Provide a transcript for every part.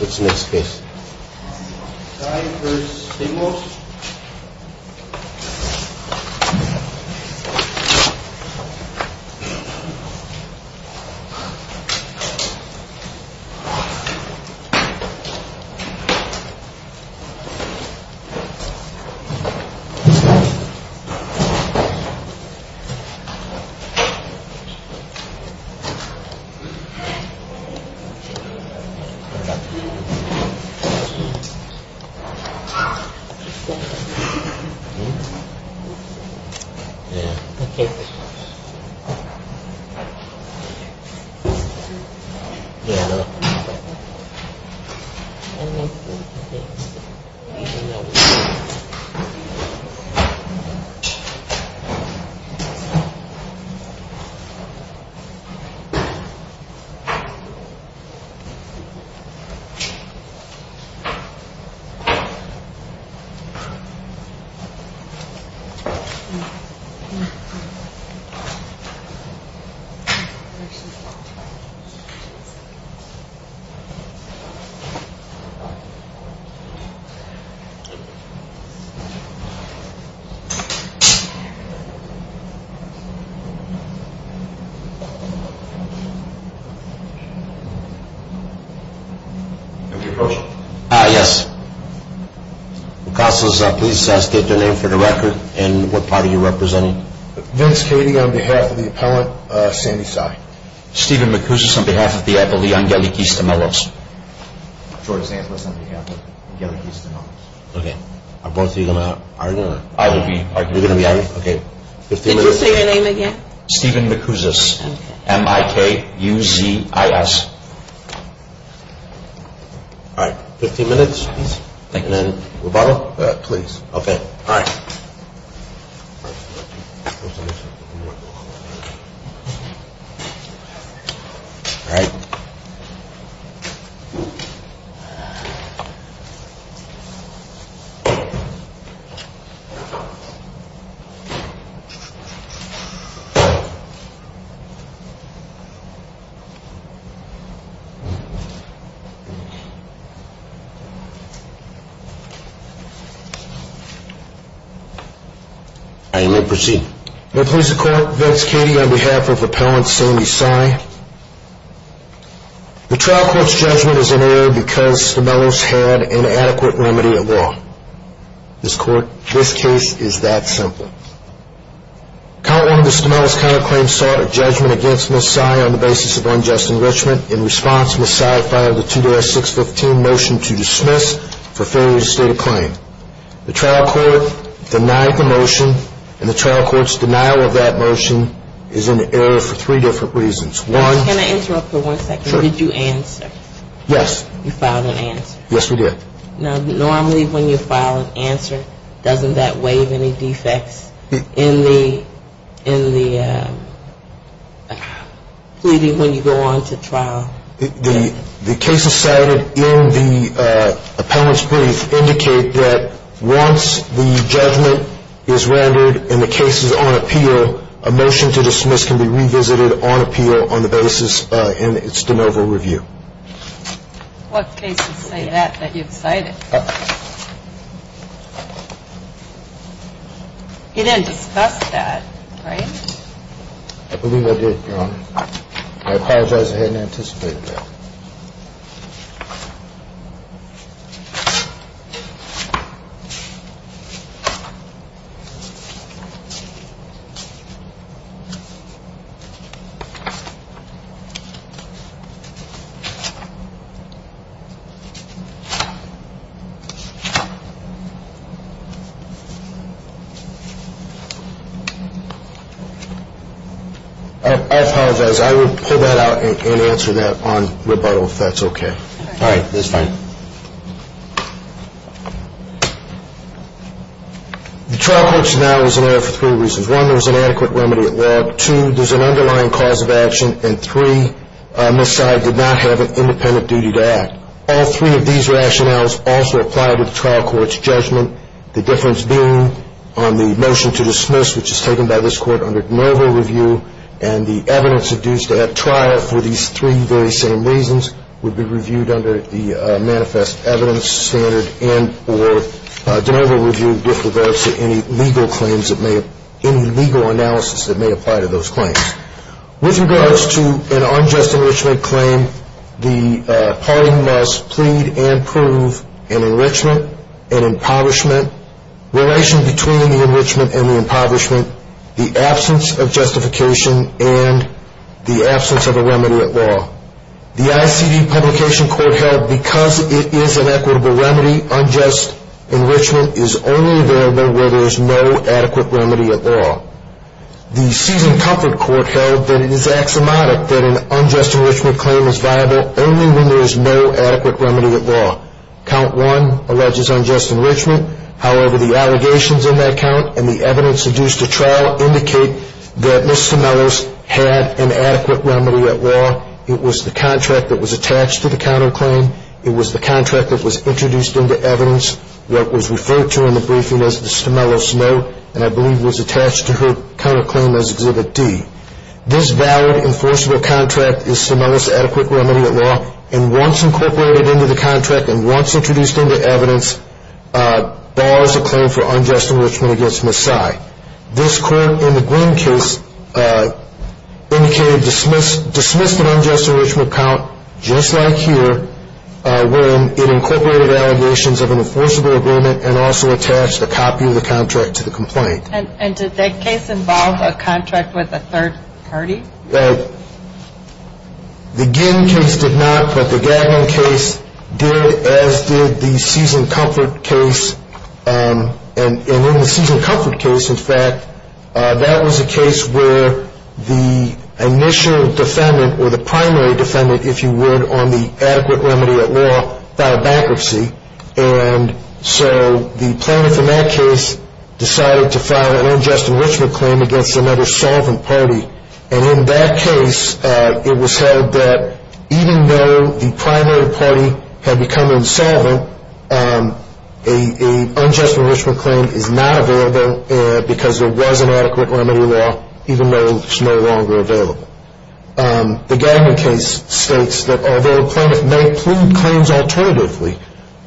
Let's make space. Sai v. Stamelos Sai v. Stamelos Sai v. Stamelos Stamelo having the witness Here is your witness, Mr v. Strapelos. Ms. Strapelos Good morning, all of you. Mr. Stamenlos Yes. Counsel, please state the name for the record and what party you're representing. Vince Keating on behalf of the appellant, Sandy Sai. Steven Macousas on behalf of the attorney on the case of Stamelos. George Sangelis on behalf of the young guy who's a writer. Okay, are both of you going to argue? I will be arguing. Did you say your name again? Steven Macousas S-M-I-K-U-Z-I-S Alright, 15 minutes. Thank you. Rebuttal? Please. Okay, alright. Alright. Alright, you may proceed. Members of the court, Vince Keating on behalf of the appellant, Sandy Sai. The trial court's judgment is in error because Stamelos had an inadequate remedy of law. This court, this case is that simple. Count one of the Stamelos counterclaims sought a judgment against Ms. Sai on the basis of unjust enrichment. In response, Ms. Sai filed a 2-6-15 motion to dismiss for failure to state a claim. The trial court denied the motion and the trial court's denial of that motion is in error for three different reasons. One Can I interrupt for one second? Sure. Did you answer? Yes. You filed an answer? Yes, we did. Now, normally when you file an answer, doesn't that waive any defects in the pleading when you go on to trial? The cases cited in the appellant's brief indicate that once the judgment is rendered and the case is on appeal, a motion to dismiss can be revisited on appeal on the basis in its de novo review. What cases say that, that you've cited? You didn't discuss that, right? I believe I did, Your Honor. I apologize. I hadn't anticipated that. I apologize. I will pull that out and answer that on rebuttal if that's okay. All right. That's fine. The trial court's denial is in error for three reasons. One, there was an adequate remedy at log. Two, there's an underlying cause of action. And three, Ms. Sy did not have an independent duty to act. All three of these rationales also apply to the trial court's judgment, the difference being on the motion to dismiss, which is taken by this court under de novo review, and the evidence induced at trial for these three very same reasons would be reviewed under the manifest evidence standard and or de novo review with regards to any legal claims that may have any legal analysis that may apply to those claims. With regards to an unjust enrichment claim, the party must plead and prove an enrichment, an impoverishment, relation between the enrichment and the impoverishment, the absence of justification, and the absence of a remedy at log. The ICD Publication Court held because it is an equitable remedy, unjust enrichment is only available where there is no adequate remedy at log. The Season Comfort Court held that it is axiomatic that an unjust enrichment claim is viable only when there is no adequate remedy at log. Count one alleges unjust enrichment. However, the allegations in that count and the evidence induced at trial indicate that Ms. Stemelos had an adequate remedy at log. It was the contract that was attached to the counterclaim. It was the contract that was introduced into evidence, what was referred to in the briefing as Ms. Stemelos' note, and I believe was attached to her counterclaim as Exhibit D. This valid, enforceable contract is Stemelos' adequate remedy at log, and once incorporated into the contract and once introduced into evidence, bars a claim for unjust enrichment against Ms. Sy. This court in the Green case indicated, dismissed an unjust enrichment count just like here when it incorporated allegations of an enforceable agreement and also attached a copy of the contract to the complaint. And did that case involve a contract with a third party? The Ginn case did not, but the Gagnon case did, as did the Season Comfort case, and in the Season Comfort case, in fact, that was a case where the initial defendant or the primary defendant, if you would, on the adequate remedy at log filed bankruptcy, and so the plaintiff in that case decided to file an unjust enrichment claim against another solvent party, and in that case, it was held that even though the primary party had become insolvent, an unjust enrichment claim is not available because there was an adequate remedy at log, even though it's no longer available. The Gagnon case states that although the plaintiff may plead claims alternatively,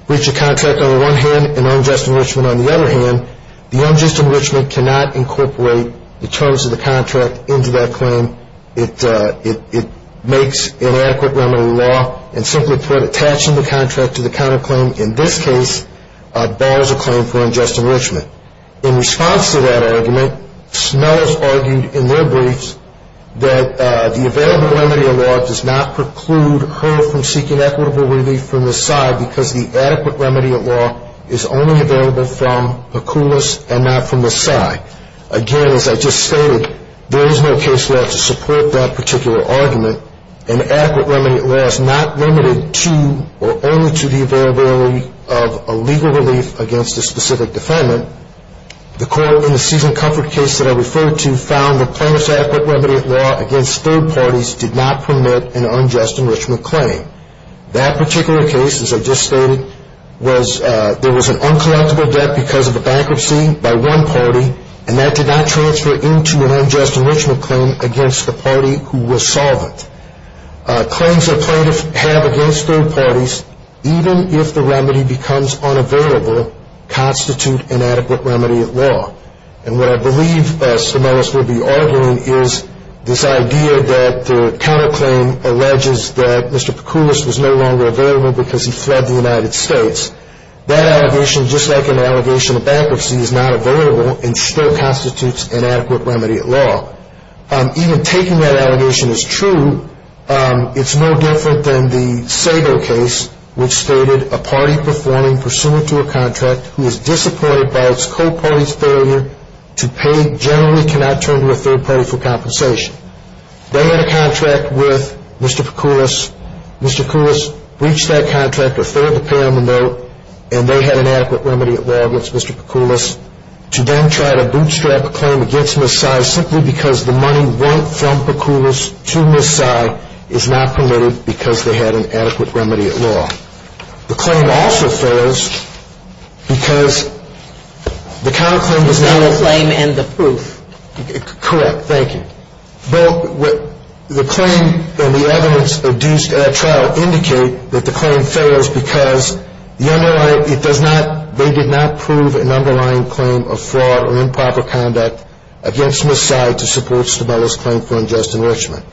breach of contract on the one hand and unjust enrichment on the other hand, the unjust enrichment cannot incorporate the terms of the contract into that claim. It makes inadequate remedy at log, and simply put, attaching the contract to the counterclaim in this case, bears a claim for unjust enrichment. In response to that argument, Snell has argued in their briefs that the available remedy at log does not preclude her from seeking equitable relief from the side because the adequate remedy at log is only available from Pecoulas and not from the side. Again, as I just stated, there is no case left to support that particular argument, and the adequate remedy at log is not limited to or only to the availability of a legal relief against a specific defendant. The court in the season comfort case that I referred to found the plaintiff's adequate remedy at log against third parties did not permit an unjust enrichment claim. That particular case, as I just stated, was there was an uncollectible debt because of a bankruptcy by one party, and that did not transfer into an unjust enrichment claim against the party who was solvent. Claims that plaintiffs have against third parties, even if the remedy becomes unavailable, constitute inadequate remedy at log. And what I believe Snell will be arguing is this idea that the counterclaim alleges that Mr. Pecoulas was no longer available because he fled the United States. That allegation, just like an allegation of bankruptcy, is not available and still constitutes inadequate remedy at log. Even taking that allegation as true, it's no different than the Sago case, which stated a party performing pursuant to a contract who is disappointed by its co-party's failure to pay generally cannot turn to a third party for compensation. They had a contract with Mr. Pecoulas. Mr. Pecoulas breached that contract or failed to pay on the note, and they had inadequate remedy at log against Mr. Pecoulas. To then try to bootstrap a claim against Ms. Sy simply because the money went from Pecoulas to Ms. Sy is not permitted because they had an adequate remedy at log. The claim also fails because the counterclaim does not... It's not the claim and the proof. Correct. Thank you. Both the claim and the evidence in that trial indicate that the claim fails because the underlying, it does not, they did not prove an underlying claim of fraud or improper conduct against Ms. Sy to support Stabella's claim for unjust enrichment.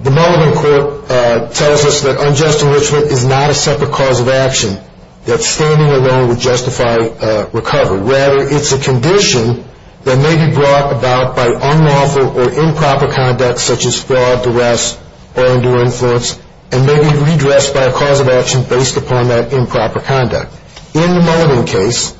The Mulligan court tells us that unjust enrichment is not a separate cause of action that standing alone would justify recovery. Rather, it's a condition that may be brought about by unlawful or improper conduct such as fraud, duress, or undue influence, and may be redressed by a cause of action based upon that improper conduct. In the Mulligan case,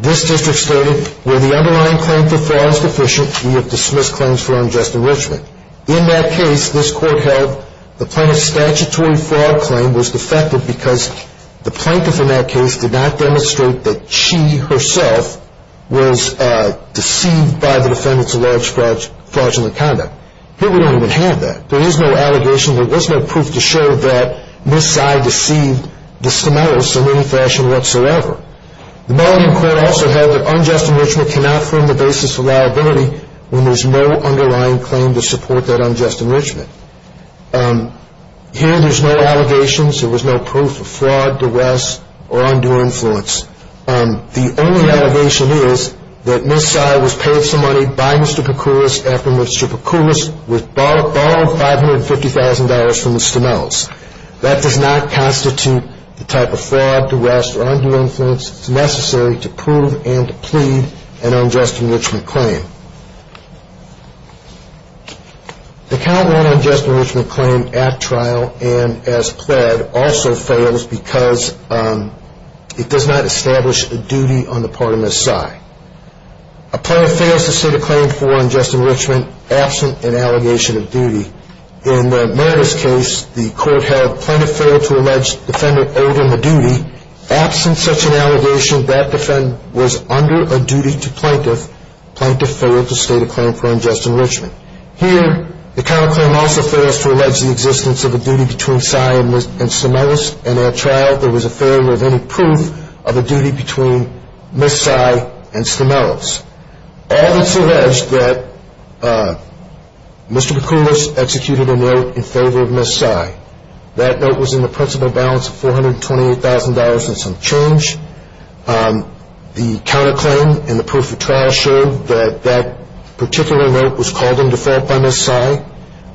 this district stated, where the underlying claim for fraud is deficient, we have dismissed claims for unjust enrichment. In that case, this court held the plaintiff's statutory fraud claim was defective because the plaintiff in that case did not demonstrate that she herself was deceived by the defendant's alleged fraudulent conduct. Here we don't even have that. There is no allegation, there is no proof to show that Ms. Sy deceived the Samaritans in any fashion whatsoever. The Mulligan court also held that unjust enrichment cannot form the basis of liability when there's no underlying claim to support that unjust enrichment. Here there's no allegations, there was no proof of fraud, duress, or undue influence. The only allegation is that Ms. Sy was paid some money by Mr. Pecoris after Mr. Pecoris was borrowed $550,000 from Mr. Mills. That does not constitute the type of fraud, duress, or undue influence necessary to prove and to plead an unjust enrichment claim. The Caldwell unjust enrichment claim at trial and as pled also fails because it does not establish a duty on the part of Ms. Sy. A plaintiff fails to state a claim for unjust enrichment absent an allegation of duty. In the Meredith case, the court held the plaintiff failed to allege the defendant owed him a duty. Absent such an allegation, that defendant was under a duty to plaintiff. Plaintiff failed to state a claim for unjust enrichment. Here the Caldwell claim also fails to allege the existence of a duty between Ms. Sy and Ms. Stamelis. And at trial there was a failure of any proof of a duty between Ms. Sy and Ms. Stamelis. All that's alleged that Mr. Pecoris executed a note in favor of Ms. Sy. That note was in the principal balance of $428,000 and some change. The counterclaim in the proof of trial showed that that particular note was called in default by Ms. Sy.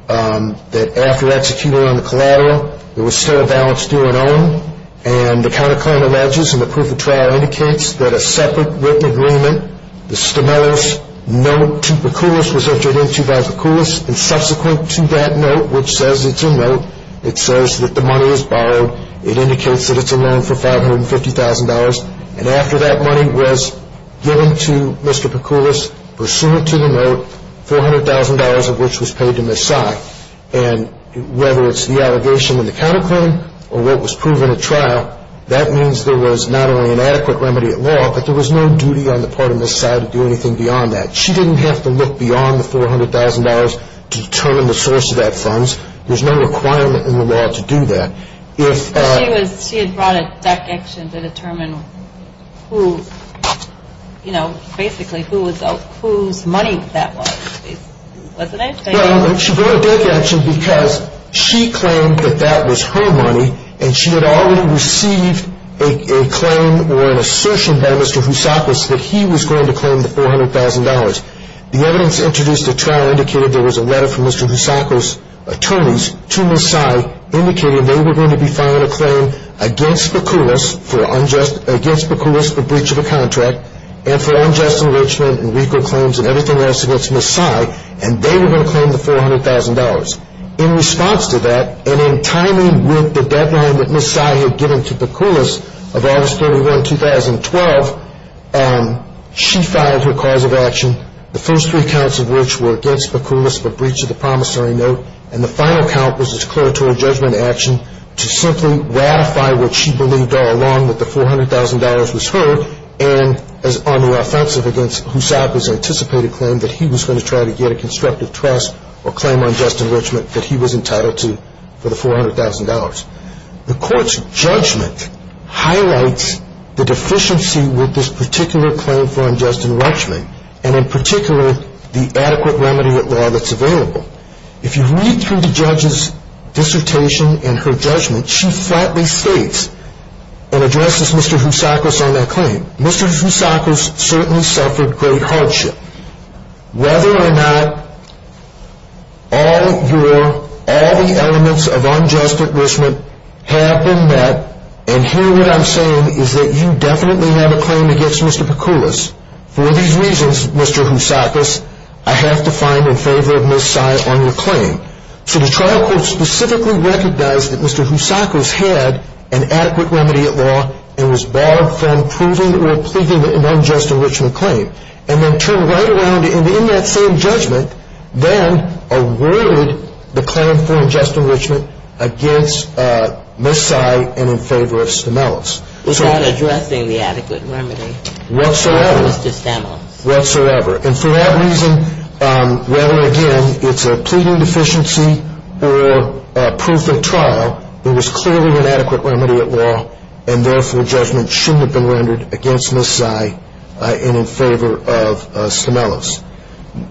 That after executing on the collateral, there was still a balance due and owing. And the counterclaim alleges in the proof of trial indicates that a separate written agreement, the Stamelis note to Pecoris was entered into by Pecoris. And subsequent to that note, which says it's a note, it says that the money is borrowed. It indicates that it's a loan for $550,000. And after that money was given to Mr. Pecoris, pursuant to the note, $400,000 of which was paid to Ms. Sy. And whether it's the allegation in the counterclaim or what was proven at trial, that means there was not only an adequate remedy at law, but there was no duty on the part of Ms. Sy to do anything beyond that. She didn't have to look beyond the $400,000 to determine the source of that funds. There's no requirement in the law to do that. She had brought a deck action to determine who, you know, basically whose money that was, wasn't it? No, she brought a deck action because she claimed that that was her money, and she had already received a claim or an assertion by Mr. Houssakos that he was going to claim the $400,000. The evidence introduced at trial indicated there was a letter from Mr. Houssakos' attorneys to Ms. Sy indicating they were going to be filing a claim against Pecoris for breach of a contract and for unjust enrichment and weaker claims and everything else against Ms. Sy. And they were going to claim the $400,000. In response to that, and in timing with the deadline that Ms. Sy had given to Pecoris of August 31, 2012, she filed her cause of action, the first three counts of which were against Pecoris for breach of the promissory note, and the final count was his declaratory judgment action to simply ratify what she believed all along that the $400,000 was hers and on the offensive against Houssakos' anticipated claim that he was going to try to get a constructive trust or claim unjust enrichment that he was entitled to for the $400,000. The court's judgment highlights the deficiency with this particular claim for unjust enrichment and, in particular, the adequate remedy at law that's available. If you read through the judge's dissertation and her judgment, she flatly states and addresses Mr. Houssakos on that claim, Mr. Houssakos certainly suffered great hardship. Whether or not all the elements of unjust enrichment have been met, and here what I'm saying is that you definitely have a claim against Mr. Pecoris. For these reasons, Mr. Houssakos, I have to find in favor of Ms. Sy on your claim. So the trial court specifically recognized that Mr. Houssakos had an adequate remedy at law and was barred from proving or pleading an unjust enrichment claim and then turned right around and, in that same judgment, then awarded the claim for unjust enrichment against Ms. Sy and in favor of Stemelis. Without addressing the adequate remedy? Whatsoever. For Mr. Stemelis. or proof of trial, there was clearly an adequate remedy at law and therefore judgment shouldn't have been rendered against Ms. Sy and in favor of Stemelis.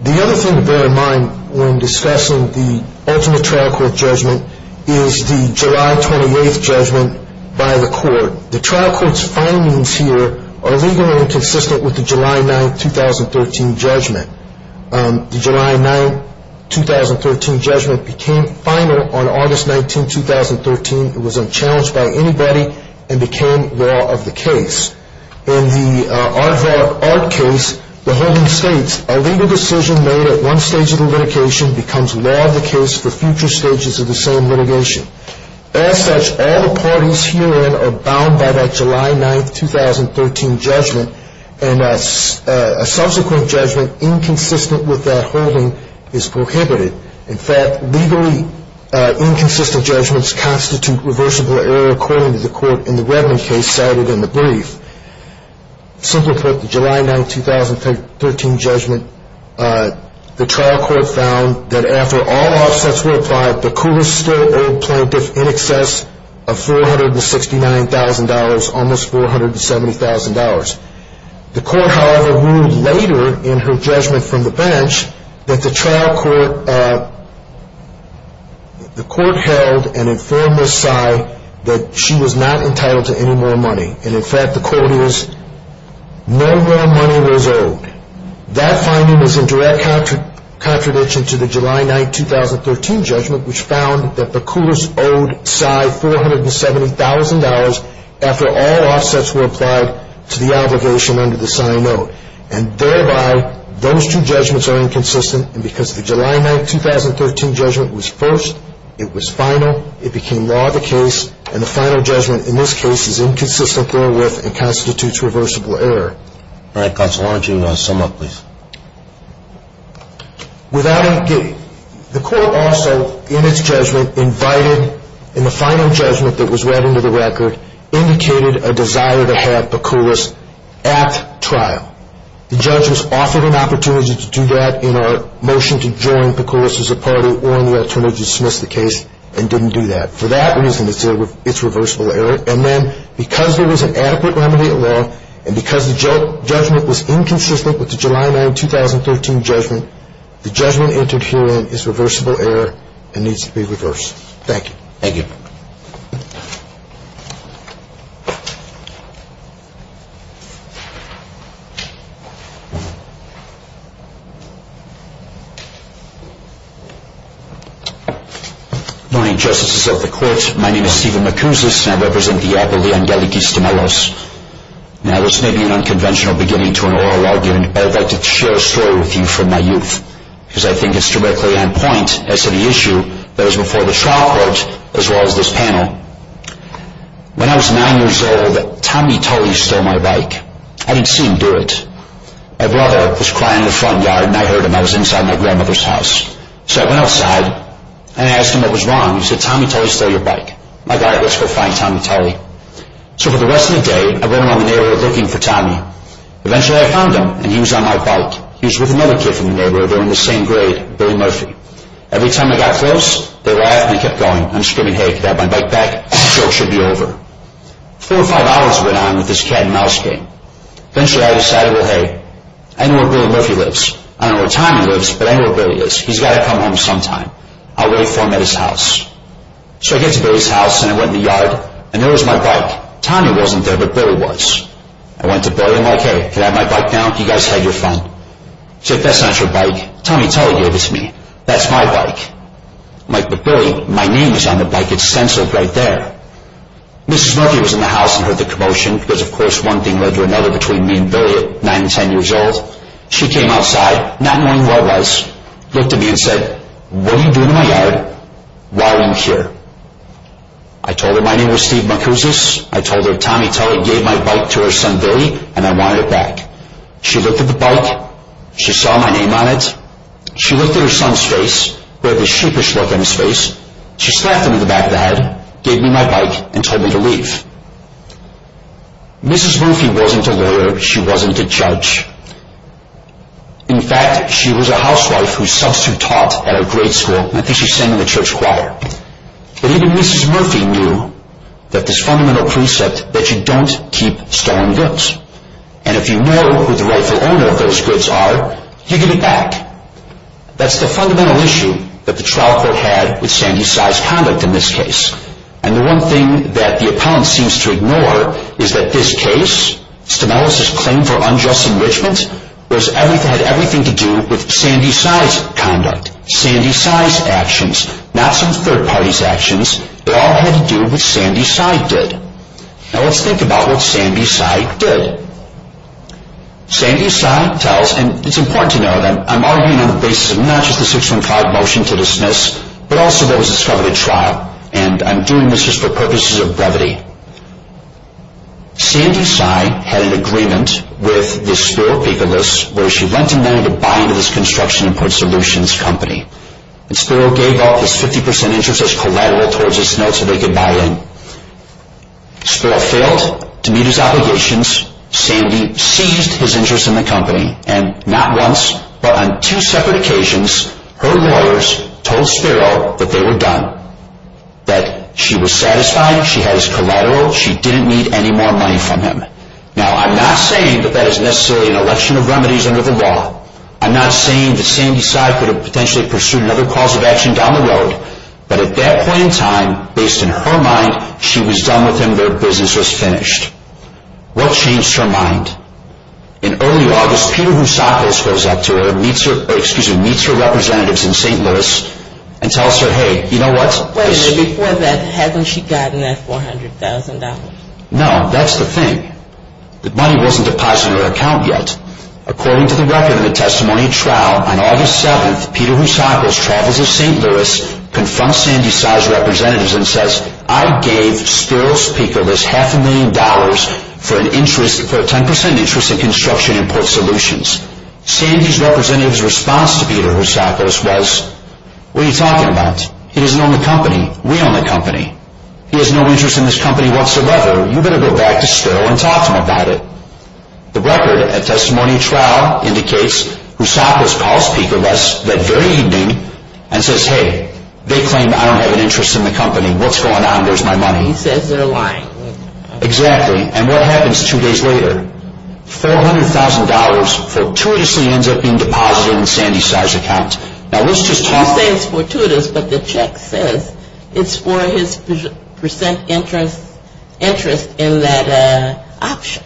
The other thing to bear in mind when discussing the ultimate trial court judgment is the July 28th judgment by the court. The trial court's findings here are legally inconsistent with the July 9th, 2013 judgment. The July 9th, 2013 judgment became final on August 19th, 2013. It was unchallenged by anybody and became law of the case. In the Art case, the holding states, a legal decision made at one stage of the litigation becomes law of the case for future stages of the same litigation. As such, all the parties herein are bound by that July 9th, 2013 judgment and a subsequent judgment inconsistent with that holding is prohibited. In fact, legally inconsistent judgments constitute reversible error, according to the court in the Redmond case cited in the brief. Simply put, the July 9th, 2013 judgment, the trial court found that after all offsets were applied, plaintiff in excess of $469,000, almost $470,000. The court, however, ruled later in her judgment from the bench that the trial court, the court held and informed Ms. Sy that she was not entitled to any more money. And in fact, the court is, no more money was owed. That finding is in direct contradiction to the July 9th, 2013 judgment, which found that the court owed Sy $470,000 after all offsets were applied to the obligation under the Sy note. And thereby, those two judgments are inconsistent. And because the July 9th, 2013 judgment was first, it was final, it became law of the case, and the final judgment in this case is inconsistent therewith and constitutes reversible error. All right, counsel, why don't you sum up, please? Without any kidding, the court also, in its judgment, invited, in the final judgment that was read into the record, indicated a desire to have Pecoulas at trial. The judge was offered an opportunity to do that in our motion to join Pecoulas as a party or in the alternative to dismiss the case and didn't do that. For that reason, it's reversible error. And then, because there was an adequate remedy at law, and because the judgment was inconsistent with the July 9th, 2013 judgment, the judgment entered herein is reversible error and needs to be reversed. Thank you. Thank you. Good morning, Justices of the Court. My name is Stephen McCousis, and I represent the Appellee Angeliki Stemelos. Now, this may be an unconventional beginning to an oral argument, but I'd like to share a story with you from my youth, because I think it's directly on point as to the issue that is before the trial court as well as this panel. When I was nine years old, Tommy Tully stole my bike. I didn't see him do it. My brother was crying in the front yard, and I heard him. I was inside my grandmother's house. So I went outside, and I asked him what was wrong. He said, Tommy Tully stole your bike. My God, let's go find Tommy Tully. So for the rest of the day, I ran around the neighborhood looking for Tommy. Eventually, I found him, and he was on my bike. He was with another kid from the neighborhood. They were in the same grade, Billy Murphy. Every time I got close, they laughed and kept going. I'm screaming, hey, can I have my bike back? The joke should be over. Four or five hours went on with this cat-and-mouse game. Eventually, I decided, well, hey, I know where Billy Murphy lives. I know where Tommy lives, but I know where Billy is. He's got to come home sometime. I'll wait for him at his house. So I get to Billy's house, and I went in the yard, and there was my bike. Tommy wasn't there, but Billy was. I went to Billy, and I'm like, hey, can I have my bike now? You guys had your fun. He said, that's not your bike. Tommy Tully gave it to me. That's my bike. I'm like, but Billy, my name is on the bike. It's censored right there. Mrs. Murphy was in the house and heard the commotion, because, of course, one thing led to another between me and Billy at 9 and 10 years old. She came outside, not knowing who I was. She looked at me and said, what are you doing in my yard? Why are you here? I told her my name was Steve Macousas. I told her Tommy Tully gave my bike to her son Billy, and I wanted it back. She looked at the bike. She saw my name on it. She looked at her son's face. He had this sheepish look on his face. She slapped him in the back of the head, gave me my bike, and told me to leave. Mrs. Murphy wasn't a lawyer. She wasn't a judge. In fact, she was a housewife whose substitute taught at a grade school, and I think she sang in a church choir. But even Mrs. Murphy knew that this fundamental precept that you don't keep stolen goods. And if you know who the rightful owner of those goods are, you give it back. That's the fundamental issue that the trial court had with Sandy Cy's conduct in this case. And the one thing that the appellant seems to ignore is that this case, Stemelis' claim for unjust enrichment, had everything to do with Sandy Cy's conduct. Sandy Cy's actions, not some third party's actions. It all had to do with what Sandy Cy did. Now let's think about what Sandy Cy did. Sandy Cy tells, and it's important to note, I'm arguing on the basis of not just a 615 motion to dismiss, but also that was discovered at trial. And I'm doing this just for purposes of brevity. Sandy Cy had an agreement with the Spiro-Picolas, where she lent him money to buy into this construction and port solutions company. And Spiro gave off his 50% interest as collateral towards this note so they could buy in. Spiro failed to meet his obligations. Sandy seized his interest in the company. And not once, but on two separate occasions, her lawyers told Spiro that they were done. That she was satisfied. She had his collateral. She didn't need any more money from him. Now I'm not saying that that is necessarily an election of remedies under the law. I'm not saying that Sandy Cy could have potentially pursued another cause of action down the road. But at that point in time, based on her mind, she was done with him. Their business was finished. What changed her mind? In early August, Peter Housakos goes up to her, meets her representatives in St. Louis, and tells her, hey, you know what? Wait a minute, before that, hasn't she gotten that $400,000? No, that's the thing. The money wasn't deposited in her account yet. According to the record in the testimony at trial, on August 7th, Peter Housakos travels to St. Louis, confronts Sandy Cy's representatives and says, I gave Spiro Spikolas half a million dollars for a 10% interest in construction and port solutions. Sandy's representative's response to Peter Housakos was, What are you talking about? He doesn't own the company. We own the company. He has no interest in this company whatsoever. You better go back to Spiro and talk to him about it. The record at testimony trial indicates Housakos calls Spikolas that very evening and says, hey, they claim I don't have an interest in the company. What's going on? Where's my money? He says they're lying. Exactly. And what happens two days later? $400,000 fortuitously ends up being deposited in Sandy Cy's account. Now, let's just talk. He says it's fortuitous, but the check says it's for his percent interest in that option.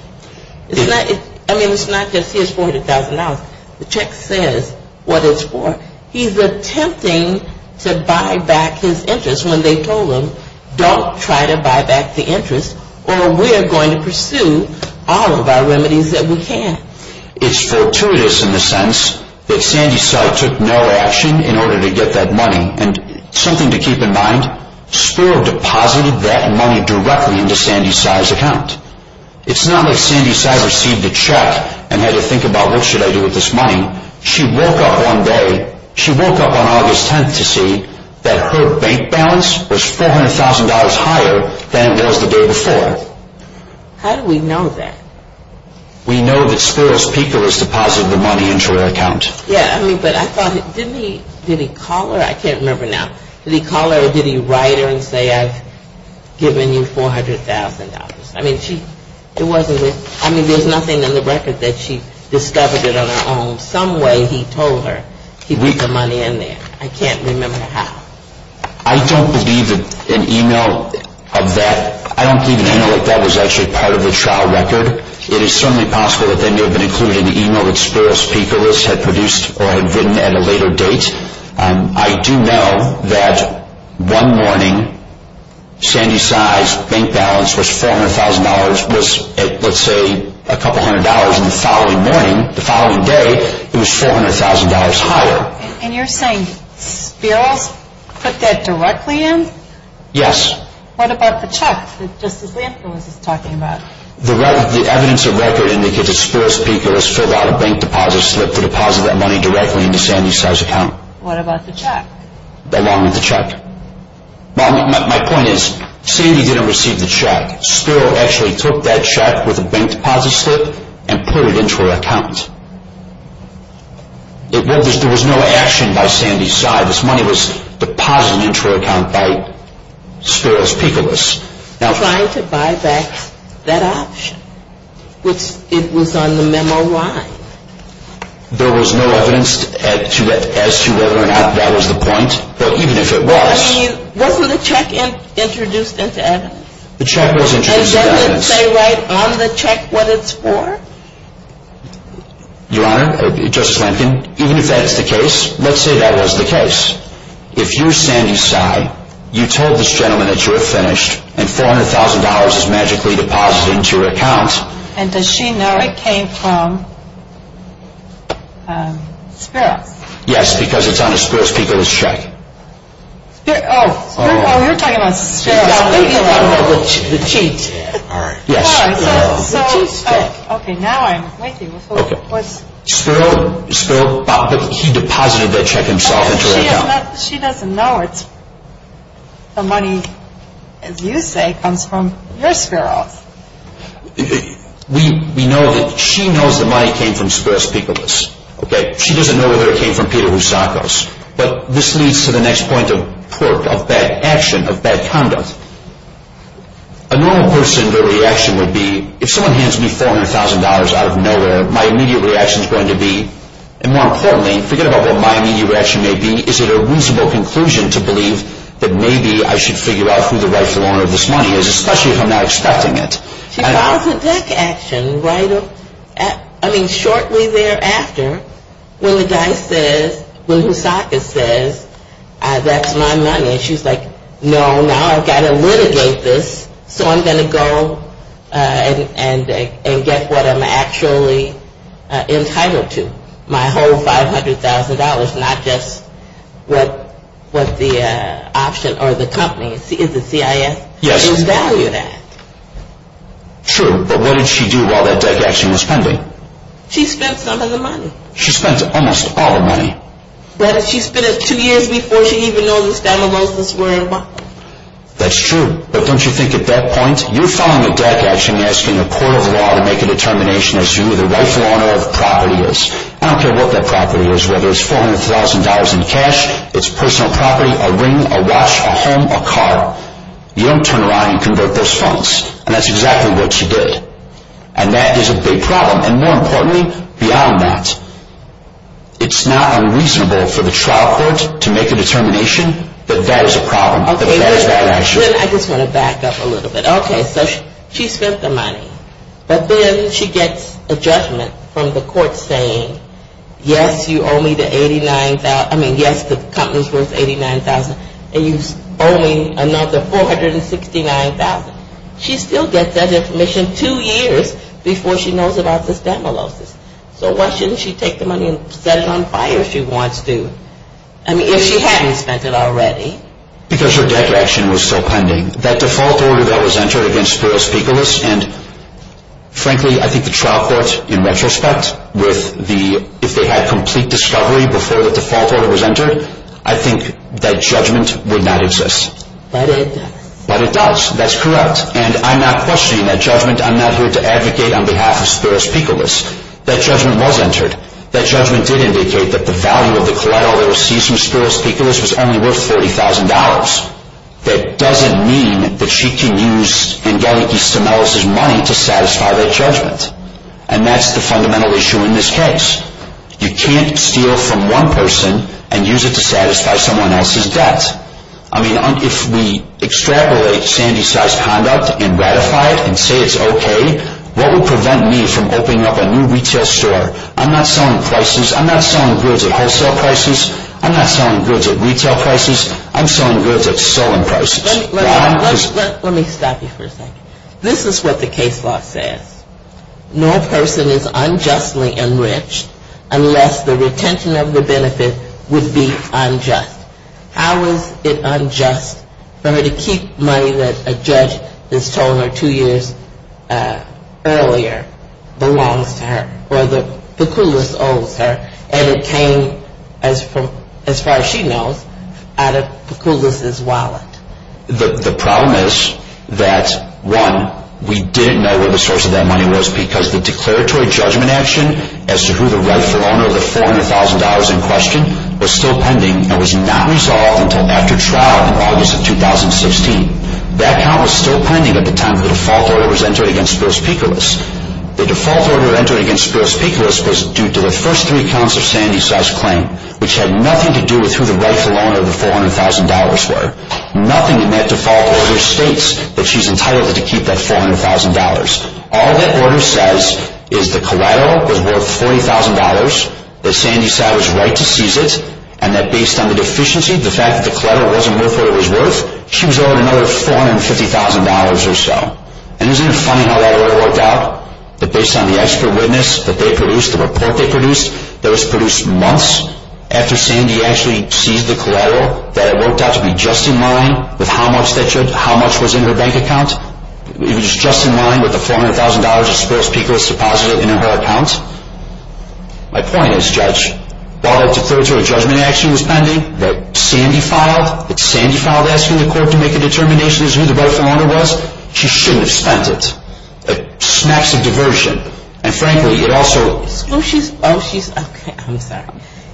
I mean, it's not just his $400,000. The check says what it's for. He's attempting to buy back his interest when they told him don't try to buy back the interest or we're going to pursue all of our remedies that we can. It's fortuitous in the sense that Sandy Cy took no action in order to get that money. And something to keep in mind, Spiro deposited that money directly into Sandy Cy's account. It's not like Sandy Cy received a check and had to think about what should I do with this money. She woke up one day. She woke up on August 10th to see that her bank balance was $400,000 higher than it was the day before. How do we know that? We know that Spiro's PICO has deposited the money into her account. Yeah, I mean, but I thought, didn't he, did he call her? I can't remember now. Did he call her or did he write her and say I've given you $400,000? I mean, she, it wasn't, I mean, there's nothing in the record that she discovered it on her own. Some way he told her he put the money in there. I can't remember how. I don't believe that an email of that, I don't believe an email like that was actually part of the trial record. It is certainly possible that they may have been including the email that Spiro's PICO list had produced or had written at a later date. I do know that one morning Sandy Tsai's bank balance was $400,000, was at, let's say, a couple hundred dollars the following morning, the following day, it was $400,000 higher. And you're saying Spiro's put that directly in? Yes. What about the check that Justice Lanford was talking about? The evidence of record indicates that Spiro's PICO has filled out a bank deposit slip to deposit that money directly into Sandy Tsai's account. What about the check? Along with the check. My point is, Sandy didn't receive the check. Spiro actually took that check with the bank deposit slip and put it into her account. There was no action by Sandy Tsai. This money was deposited into her account by Spiro's PICO list. Trying to buy back that option, which it was on the memo line. There was no evidence as to whether or not that was the point, but even if it was. I mean, wasn't the check introduced into evidence? The check was introduced into evidence. And doesn't it say right on the check what it's for? Your Honor, Justice Lampkin, even if that's the case, let's say that was the case. If you're Sandy Tsai, you told this gentleman that you were finished, and $400,000 is magically deposited into your account. And does she know it came from Spiro? Yes, because it's on the Spiro's PICO list check. Oh, you're talking about Spiro. I'm talking about the cheat. Yes. Okay, now I'm with you. Spiro, he deposited that check himself into her account. She doesn't know it. The money, as you say, comes from your Spiro's. We know that she knows the money came from Spiro's PICO list. She doesn't know whether it came from Peter Rusako's. But this leads to the next point of poor, of bad action, of bad conduct. A normal person's reaction would be, if someone hands me $400,000 out of nowhere, my immediate reaction is going to be, and more importantly, forget about what my immediate reaction may be, is it a reasonable conclusion to believe that maybe I should figure out who the rightful owner of this money is, especially if I'm not expecting it. She calls it bad action, right? I mean, shortly thereafter, when the guy says, when Rusako says, that's my money, and she's like, no, now I've got to litigate this, so I'm going to go and get what I'm actually entitled to, my whole $500,000, not just what the option or the company, is it CIS, will value that. True, but what did she do while that bad action was pending? She spent some of the money. She spent almost all the money. Rather, she spent it two years before she even noticed that Mimosas were involved. That's true, but don't you think at that point, you're filing a debt action asking a court of law to make a determination as to who the rightful owner of the property is. I don't care what that property is, whether it's $400,000 in cash, it's personal property, a ring, a watch, a home, a car, you don't turn around and convert those funds. And that's exactly what she did. And that is a big problem, and more importantly, beyond that, it's not unreasonable for the trial court to make a determination that that is a problem, that that is bad action. Okay, I just want to back up a little bit. Okay, so she spent the money, but then she gets a judgment from the court saying, yes, you owe me the $89,000, I mean, yes, the company's worth $89,000, and you're owing another $469,000. She still gets that information two years before she knows about the Stemculosis. So why shouldn't she take the money and set it on fire if she wants to? I mean, if she hadn't spent it already. Because her debt action was still pending. That default order that was entered against Spiros Picolis, and frankly, I think the trial court, in retrospect, if they had complete discovery before the default order was entered, I think that judgment would not exist. But it does. But it does, that's correct, and I'm not questioning that judgment. I'm not here to advocate on behalf of Spiros Picolis. That judgment was entered. That judgment did indicate that the value of the collateral that was seized from Spiros Picolis was only worth $40,000. That doesn't mean that she can use Angeliki Stemelis' money to satisfy that judgment, and that's the fundamental issue in this case. You can't steal from one person and use it to satisfy someone else's debt. I mean, if we extrapolate Sandy Tsai's conduct and ratify it and say it's okay, what would prevent me from opening up a new retail store? I'm not selling prices. I'm not selling goods at wholesale prices. I'm not selling goods at retail prices. I'm selling goods at selling prices. Let me stop you for a second. This is what the case law says. No person is unjustly enriched unless the retention of the benefit would be unjust. How is it unjust for her to keep money that a judge has told her two years earlier belongs to her or that Picolis owes her and it came, as far as she knows, out of Picolis' wallet? The problem is that, one, we didn't know where the source of that money was because the declaratory judgment action as to who the rightful owner of the $400,000 in question was still pending and was not resolved until after trial in August of 2016. That count was still pending at the time the default order was entered against Spiros Picolis. The default order entered against Spiros Picolis was due to the first three counts of Sandy Tsai's claim, which had nothing to do with who the rightful owner of the $400,000 were. Nothing in that default order states that she's entitled to keep that $400,000. All that order says is the collateral was worth $40,000, that Sandy Tsai was right to seize it, and that based on the deficiency, the fact that the collateral wasn't worth what it was worth, she was owed another $450,000 or so. And isn't it funny how that order worked out? That based on the expert witness that they produced, the report they produced, that was produced months after Sandy actually seized the collateral, that it worked out to be just in line with how much was in her bank account? It was just in line with the $400,000 that Spiros Picolis deposited into her account? My point is, Judge, while that deferred to a judgment action that was pending that Sandy filed, that Sandy filed asking the court to make a determination as to who the rightful owner was, she shouldn't have spent it. A smacks of diversion. And frankly, it also... Oh, she's... Okay, I'm sorry.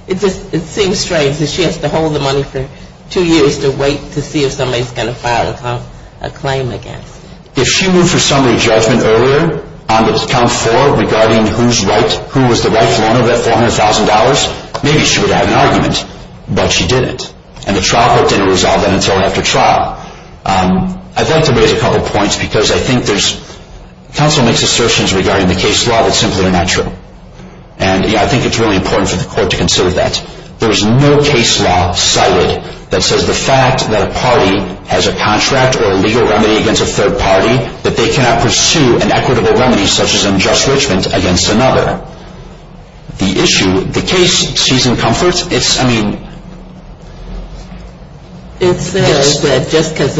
It just seems strange that she has to hold the money for two years to wait to see if somebody's going to file a claim against her. If she moved her summary judgment earlier, on account four, regarding who was the rightful owner of that $400,000, maybe she would have an argument. But she didn't. And the trial court didn't resolve that until after trial. I'd like to raise a couple points because I think there's... Counsel makes assertions regarding the case law that simply are not true. And I think it's really important for the court to consider that. There is no case law cited that says the fact that a party has a contract or a legal remedy against a third party, that they cannot pursue an equitable remedy such as unjust enrichment against another. The issue, the case sees in comfort. It's, I mean... It says that just because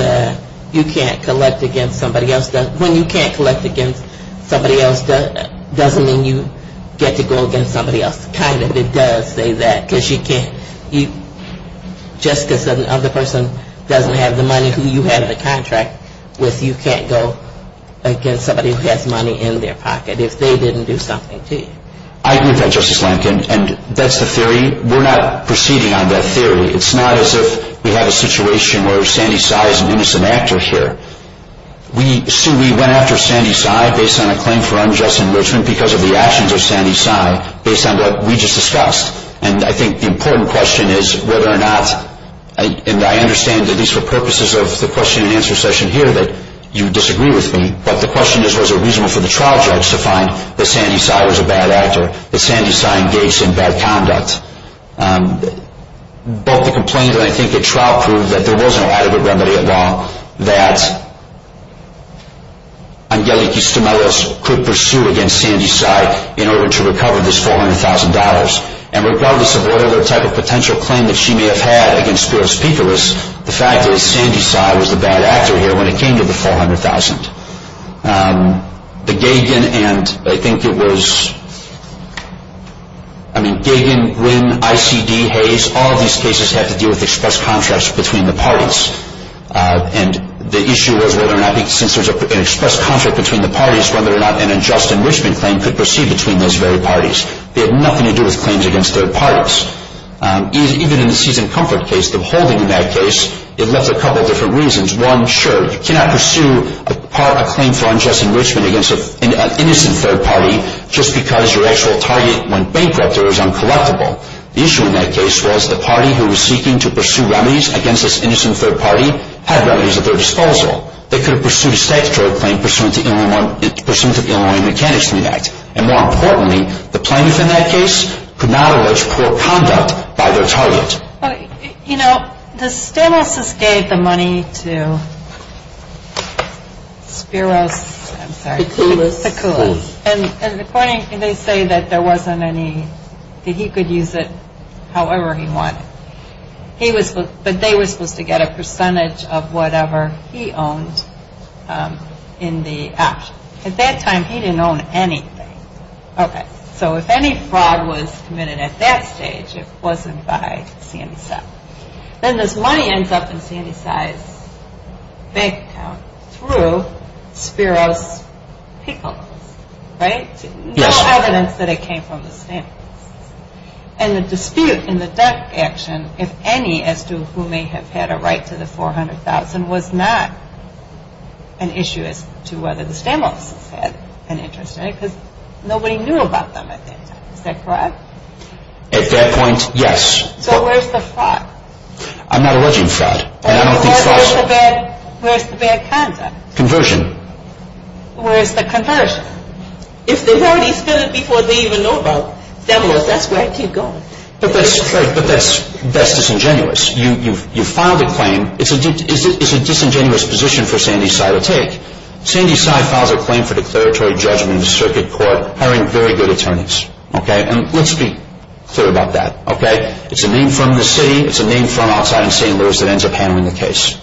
you can't collect against somebody else, when you can't collect against somebody else, doesn't mean you get to go against somebody else. It kind of does say that, because you can't... Just because another person doesn't have the money who you have the contract with, you can't go against somebody who has money in their pocket, if they didn't do something to you. I agree with that, Justice Lankin. And that's the theory. We're not proceeding on that theory. It's not as if we have a situation where Sandy Tsai is an innocent actor here. We went after Sandy Tsai based on a claim for unjust enrichment even because of the actions of Sandy Tsai based on what we just discussed. And I think the important question is whether or not... And I understand, at least for purposes of the question and answer session here, that you disagree with me, but the question is, was it reasonable for the trial judge to find that Sandy Tsai was a bad actor, that Sandy Tsai engaged in bad conduct? Both the complaint and I think the trial proved that there was no adequate remedy at law that Angelique Eustemelos could pursue against Sandy Tsai in order to recover this $400,000. And regardless of what other type of potential claim that she may have had against Spiros Pikoulas, the fact is Sandy Tsai was the bad actor here when it came to the $400,000. The Gagan and I think it was... I mean, Gagan, Nguyen, ICD, Hayes, all of these cases had to deal with express contracts between the parties. And the issue was whether or not, since there's an express contract between the parties, whether or not an unjust enrichment claim could proceed between those very parties. They had nothing to do with claims against third parties. Even in the Season Comfort case, the holding in that case, it left a couple of different reasons. One, sure, you cannot pursue a claim for unjust enrichment against an innocent third party just because your actual target went bankrupt or was uncollectible. The issue in that case was the party who was seeking to pursue remedies against this innocent third party had remedies at their disposal. They could have pursued a statutory claim pursuant to the Illinois Mechanics Treaty Act. And more importantly, the plaintiff in that case could not allege poor conduct by their target. You know, the Stamos' gave the money to Spiros, I'm sorry. Pikoulas. Pikoulas. And according, they say that there wasn't any, that he could use it however he wanted. He was, but they were supposed to get a percentage of whatever he owned in the action. At that time, he didn't own anything. Okay. So if any fraud was committed at that stage, it wasn't by CNCSI. Then this money ends up in CNCSI's bank account through Spiros Pikoulas, right? Yes. No evidence that it came from the Stamos. And the dispute in the duck action, if any, as to who may have had a right to the $400,000 was not an issue as to whether the Stamos had an interest in it because nobody knew about them at that time. Is that correct? At that point, yes. So where's the fraud? I'm not alleging fraud. Where's the bad content? Conversion. Where's the conversion? If they've already spilled it before they even know about Stamos, that's where it could go. But that's disingenuous. You filed a claim. It's a disingenuous position for CNCSI to take. CNCSI files a claim for declaratory judgment in the circuit court hiring very good attorneys. Okay? And let's be clear about that. Okay? It's a name firm in the city. It's a name firm outside in St. Louis that ends up handling the case.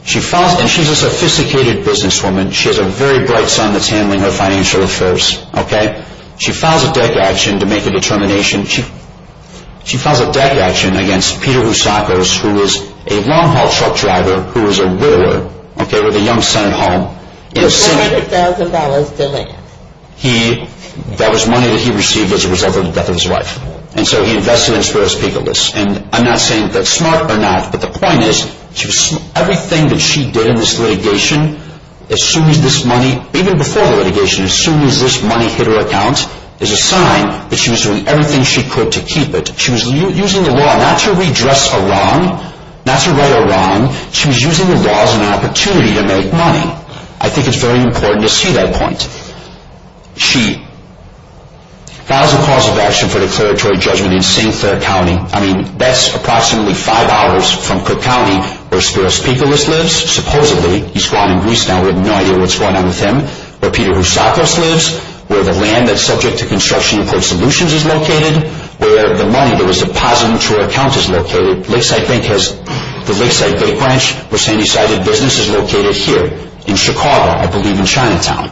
And she's a sophisticated businesswoman. She has a very bright son that's handling her financial affairs. Okay? She files a duck action to make a determination. She files a duck action against Peter Rusakos, who is a long-haul truck driver, who is a whittler, okay, with a young son at home. $400,000 delay. That was money that he received as a reserve for the death of his wife. And so he invested in Spiro Spikalis. And I'm not saying that's smart or not, but the point is everything that she did in this litigation, as soon as this money, even before the litigation, as soon as this money hit her account is a sign that she was doing everything she could to keep it. She was using the law not to redress a wrong, not to right a wrong. She was using the law as an opportunity to make money. I think it's very important to see that point. She files a cause of action for declaratory judgment in St. Clair County. I mean, that's approximately five hours from Cook County where Spiro Spikalis lives, supposedly. He's gone in Greece now. We have no idea what's going on with him. Where Peter Rusakos lives, where the land that's subject to construction import solutions is located, where the money that was deposited into her account is located. The Lakeside Bank Branch, where Sandy's side of business is located here in Chicago, I believe in Chinatown.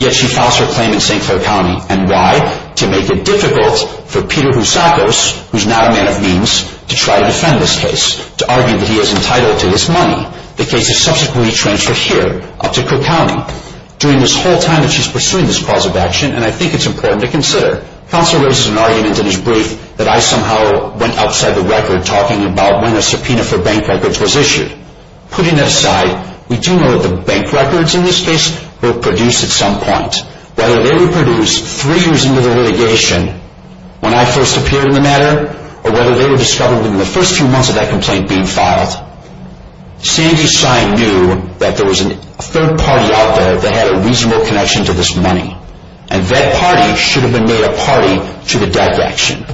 Yet she files her claim in St. Clair County. And why? To make it difficult for Peter Rusakos, who's not a man of means, to try to defend this case, to argue that he is entitled to this money. The case is subsequently transferred here up to Cook County. During this whole time that she's pursuing this cause of action, and I think it's important to consider, counsel raises an argument in his brief that I somehow went outside the record talking about when the subpoena for bank records was issued. Putting that aside, we do know that the bank records in this case were produced at some point. Whether they were produced three years into the litigation, when I first appeared in the matter, or whether they were discovered in the first few months of that complaint being filed. Sandy's side knew that there was a third party out there that had a reasonable connection to this money. And that party should have been made a party to the DEC action.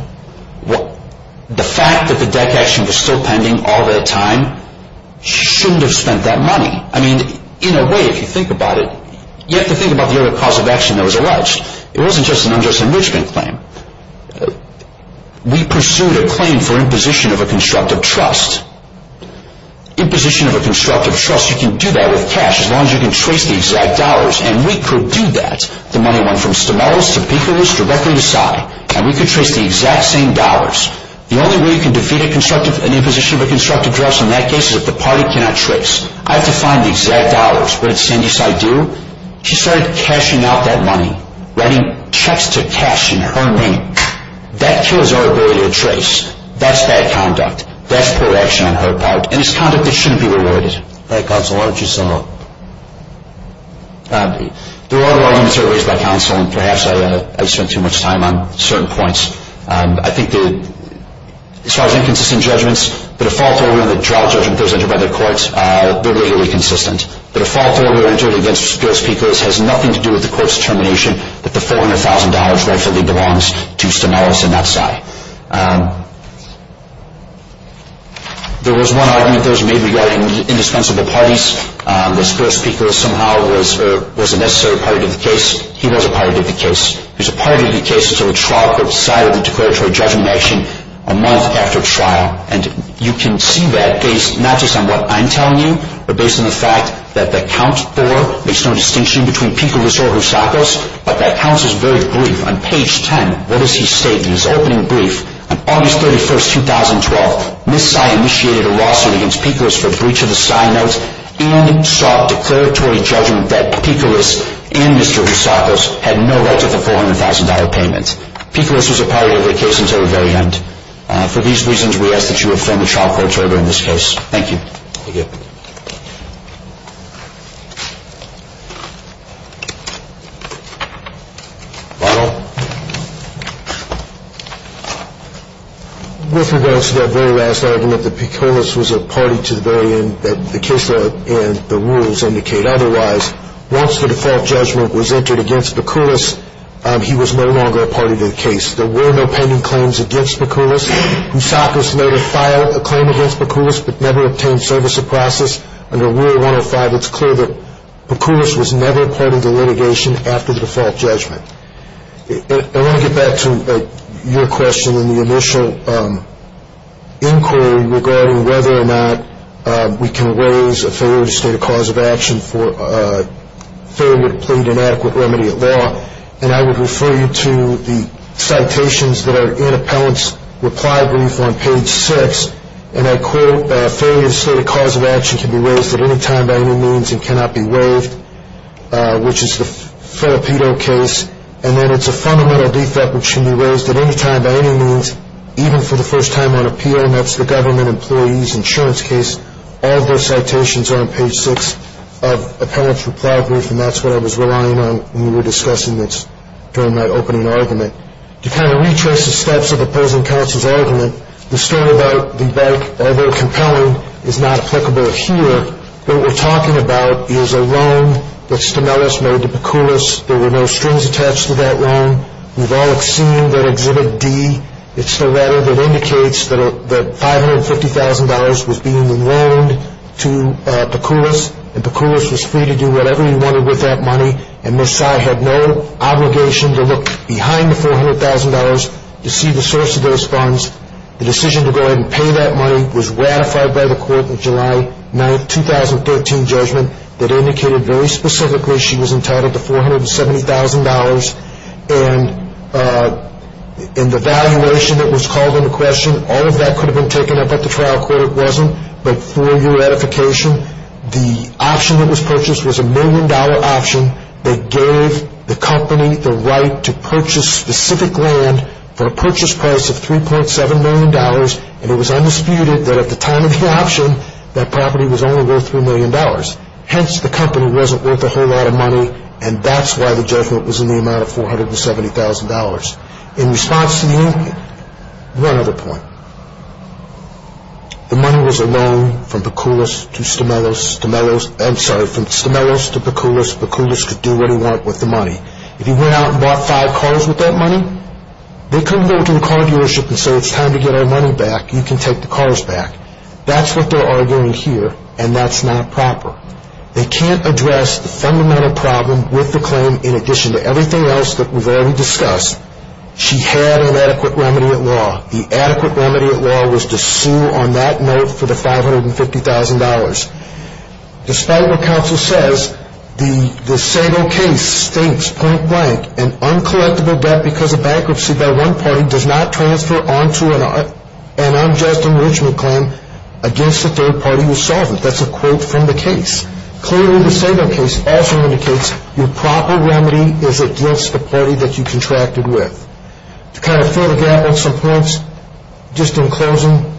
The fact that the DEC action was still pending all that time, she shouldn't have spent that money. I mean, in a way, if you think about it, you have to think about the other cause of action that was alleged. It wasn't just an unjust enrichment claim. We pursued a claim for imposition of a constructive trust. Imposition of a constructive trust, you can do that with cash, as long as you can trace the exact dollars. And we could do that. The money went from Stomelos to Picos, directly to Sy. And we could trace the exact same dollars. The only way you can defeat an imposition of a constructive trust in that case is if the party cannot trace. I have to find the exact dollars. What did Sandy's side do? She started cashing out that money. Writing checks to cash in her name. That kills our ability to trace. That's bad conduct. That's poor action on her part. And it's conduct that shouldn't be rewarded. All right, counsel, why don't you sum up? There are other arguments that were raised by counsel, and perhaps I spent too much time on certain points. I think as far as inconsistent judgments, the default order and the trial judgment that was entered by the courts, they're legally consistent. The default order entered against Picos has nothing to do with the court's determination that the $400,000 rightfully belongs to Stomelos and not Sy. There was one argument that was made regarding indispensable parties. This first Picos somehow was a necessary party to the case. He was a party to the case. He was a party to the case until the trial court decided to declare a trial judgment in action a month after trial. And you can see that based not just on what I'm telling you, but based on the fact that the count four makes no distinction between Picos or Housakos. But that count is very brief. On page 10, what does he state in his opening brief? On August 31, 2012, Ms. Sy initiated a lawsuit against Picos for breach of the Sy note and sought declaratory judgment that Picos and Mr. Housakos had no right to the $400,000 payment. Picos was a party to the case until the very end. For these reasons, we ask that you affirm the trial court's order in this case. Thank you. Thank you. Thank you. Ronald? With regards to that very last argument that Picos was a party to the very end, that the case law and the rules indicate otherwise, once the default judgment was entered against Picos, he was no longer a party to the case. There were no pending claims against Picos. Housakos later filed a claim against Picos but never obtained service or process. Under Rule 105, it's clear that Picos was never a party to litigation after the default judgment. I want to get back to your question in the initial inquiry regarding whether or not we can raise a failure to state a cause of action for a failure to plead an adequate remedy at law. And I would refer you to the citations that are in Appellant's reply brief on page 6. And I quote, a failure to state a cause of action can be raised at any time by any means and cannot be waived, which is the Filippino case. And then it's a fundamental defect which can be raised at any time by any means, even for the first time on appeal, and that's the government employee's insurance case. All of those citations are on page 6 of Appellant's reply brief, and that's what I was relying on when we were discussing this during that opening argument. To kind of retrace the steps of the present counsel's argument, the story about the bank, although compelling, is not applicable here. What we're talking about is a loan that Stemeles made to Picolos. There were no strings attached to that loan. We've all seen that Exhibit D. It's the letter that indicates that $550,000 was being loaned to Picolos, and Picolos was free to do whatever he wanted with that money, and Ms. Sy had no obligation to look behind the $400,000 to see the source of those funds. The decision to go ahead and pay that money was ratified by the court in July 9, 2013, judgment that indicated very specifically she was entitled to $470,000. And the valuation that was called into question, all of that could have been taken up at the trial court. It wasn't, but for your ratification, the option that was purchased was a million-dollar option that gave the company the right to purchase specific land for a purchase price of $3.7 million, and it was undisputed that at the time of the option, that property was only worth $3 million. Hence, the company wasn't worth a whole lot of money, and that's why the judgment was in the amount of $470,000. In response to the opinion, one other point. The money was a loan from Picolos to Stemelos. Stemelos, I'm sorry, from Stemelos to Picolos. Picolos could do what he wanted with the money. If he went out and bought five cars with that money, they couldn't go to the car dealership and say, it's time to get our money back, you can take the cars back. That's what they're arguing here, and that's not proper. They can't address the fundamental problem with the claim in addition to everything else that we've already discussed. She had an adequate remedy at law. The adequate remedy at law was to sue on that note for the $550,000. Despite what counsel says, the Sago case states, point blank, an uncollectible debt because of bankruptcy by one party does not transfer onto an unjust enrichment claim against the third party who solved it. That's a quote from the case. Clearly, the Sago case also indicates your proper remedy is against the party that you contracted with. To kind of fill the gap on some points, just in closing,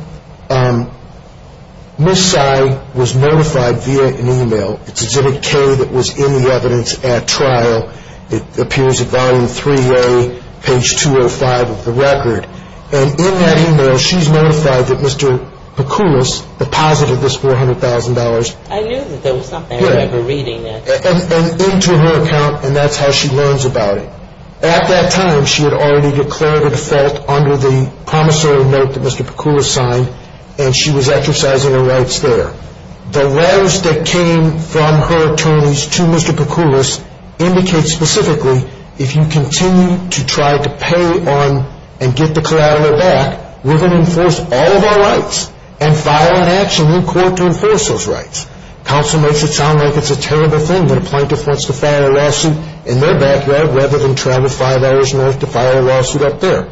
Ms. Tsai was notified via an email. It's exhibit K that was in the evidence at trial. It appears at volume 3A, page 205 of the record. In that email, she's notified that Mr. Peculis deposited this $400,000. I knew that there was something. I remember reading it. Into her account, and that's how she learns about it. At that time, she had already declared a default under the promissory note that Mr. Peculis signed, and she was exercising her rights there. The letters that came from her attorneys to Mr. Peculis indicate specifically if you continue to try to pay on and get the collateral back, we're going to enforce all of our rights and file an action in court to enforce those rights. Counsel makes it sound like it's a terrible thing that a plaintiff wants to file a lawsuit in their background rather than travel five hours north to file a lawsuit up there.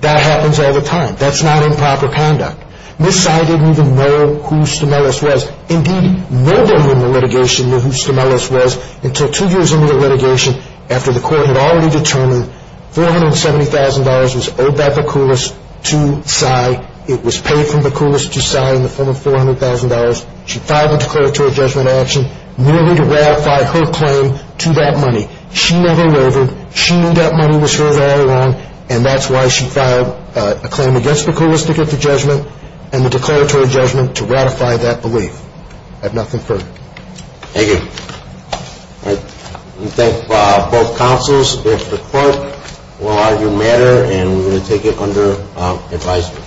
That happens all the time. That's not improper conduct. Ms. Tsai didn't even know who Stimelis was. Indeed, nobody in the litigation knew who Stimelis was until two years into the litigation after the court had already determined $470,000 was owed by Peculis to Tsai. It was paid from Peculis to Tsai in the form of $400,000. She filed a declaratory judgment action merely to ratify her claim to that money. She never wavered. She knew that money was hers all along, and that's why she filed a claim against Peculis to get the judgment and a declaratory judgment to ratify that belief. I have nothing further. Thank you. We thank both counsels. If the court will argue a matter, we will take it under advisory.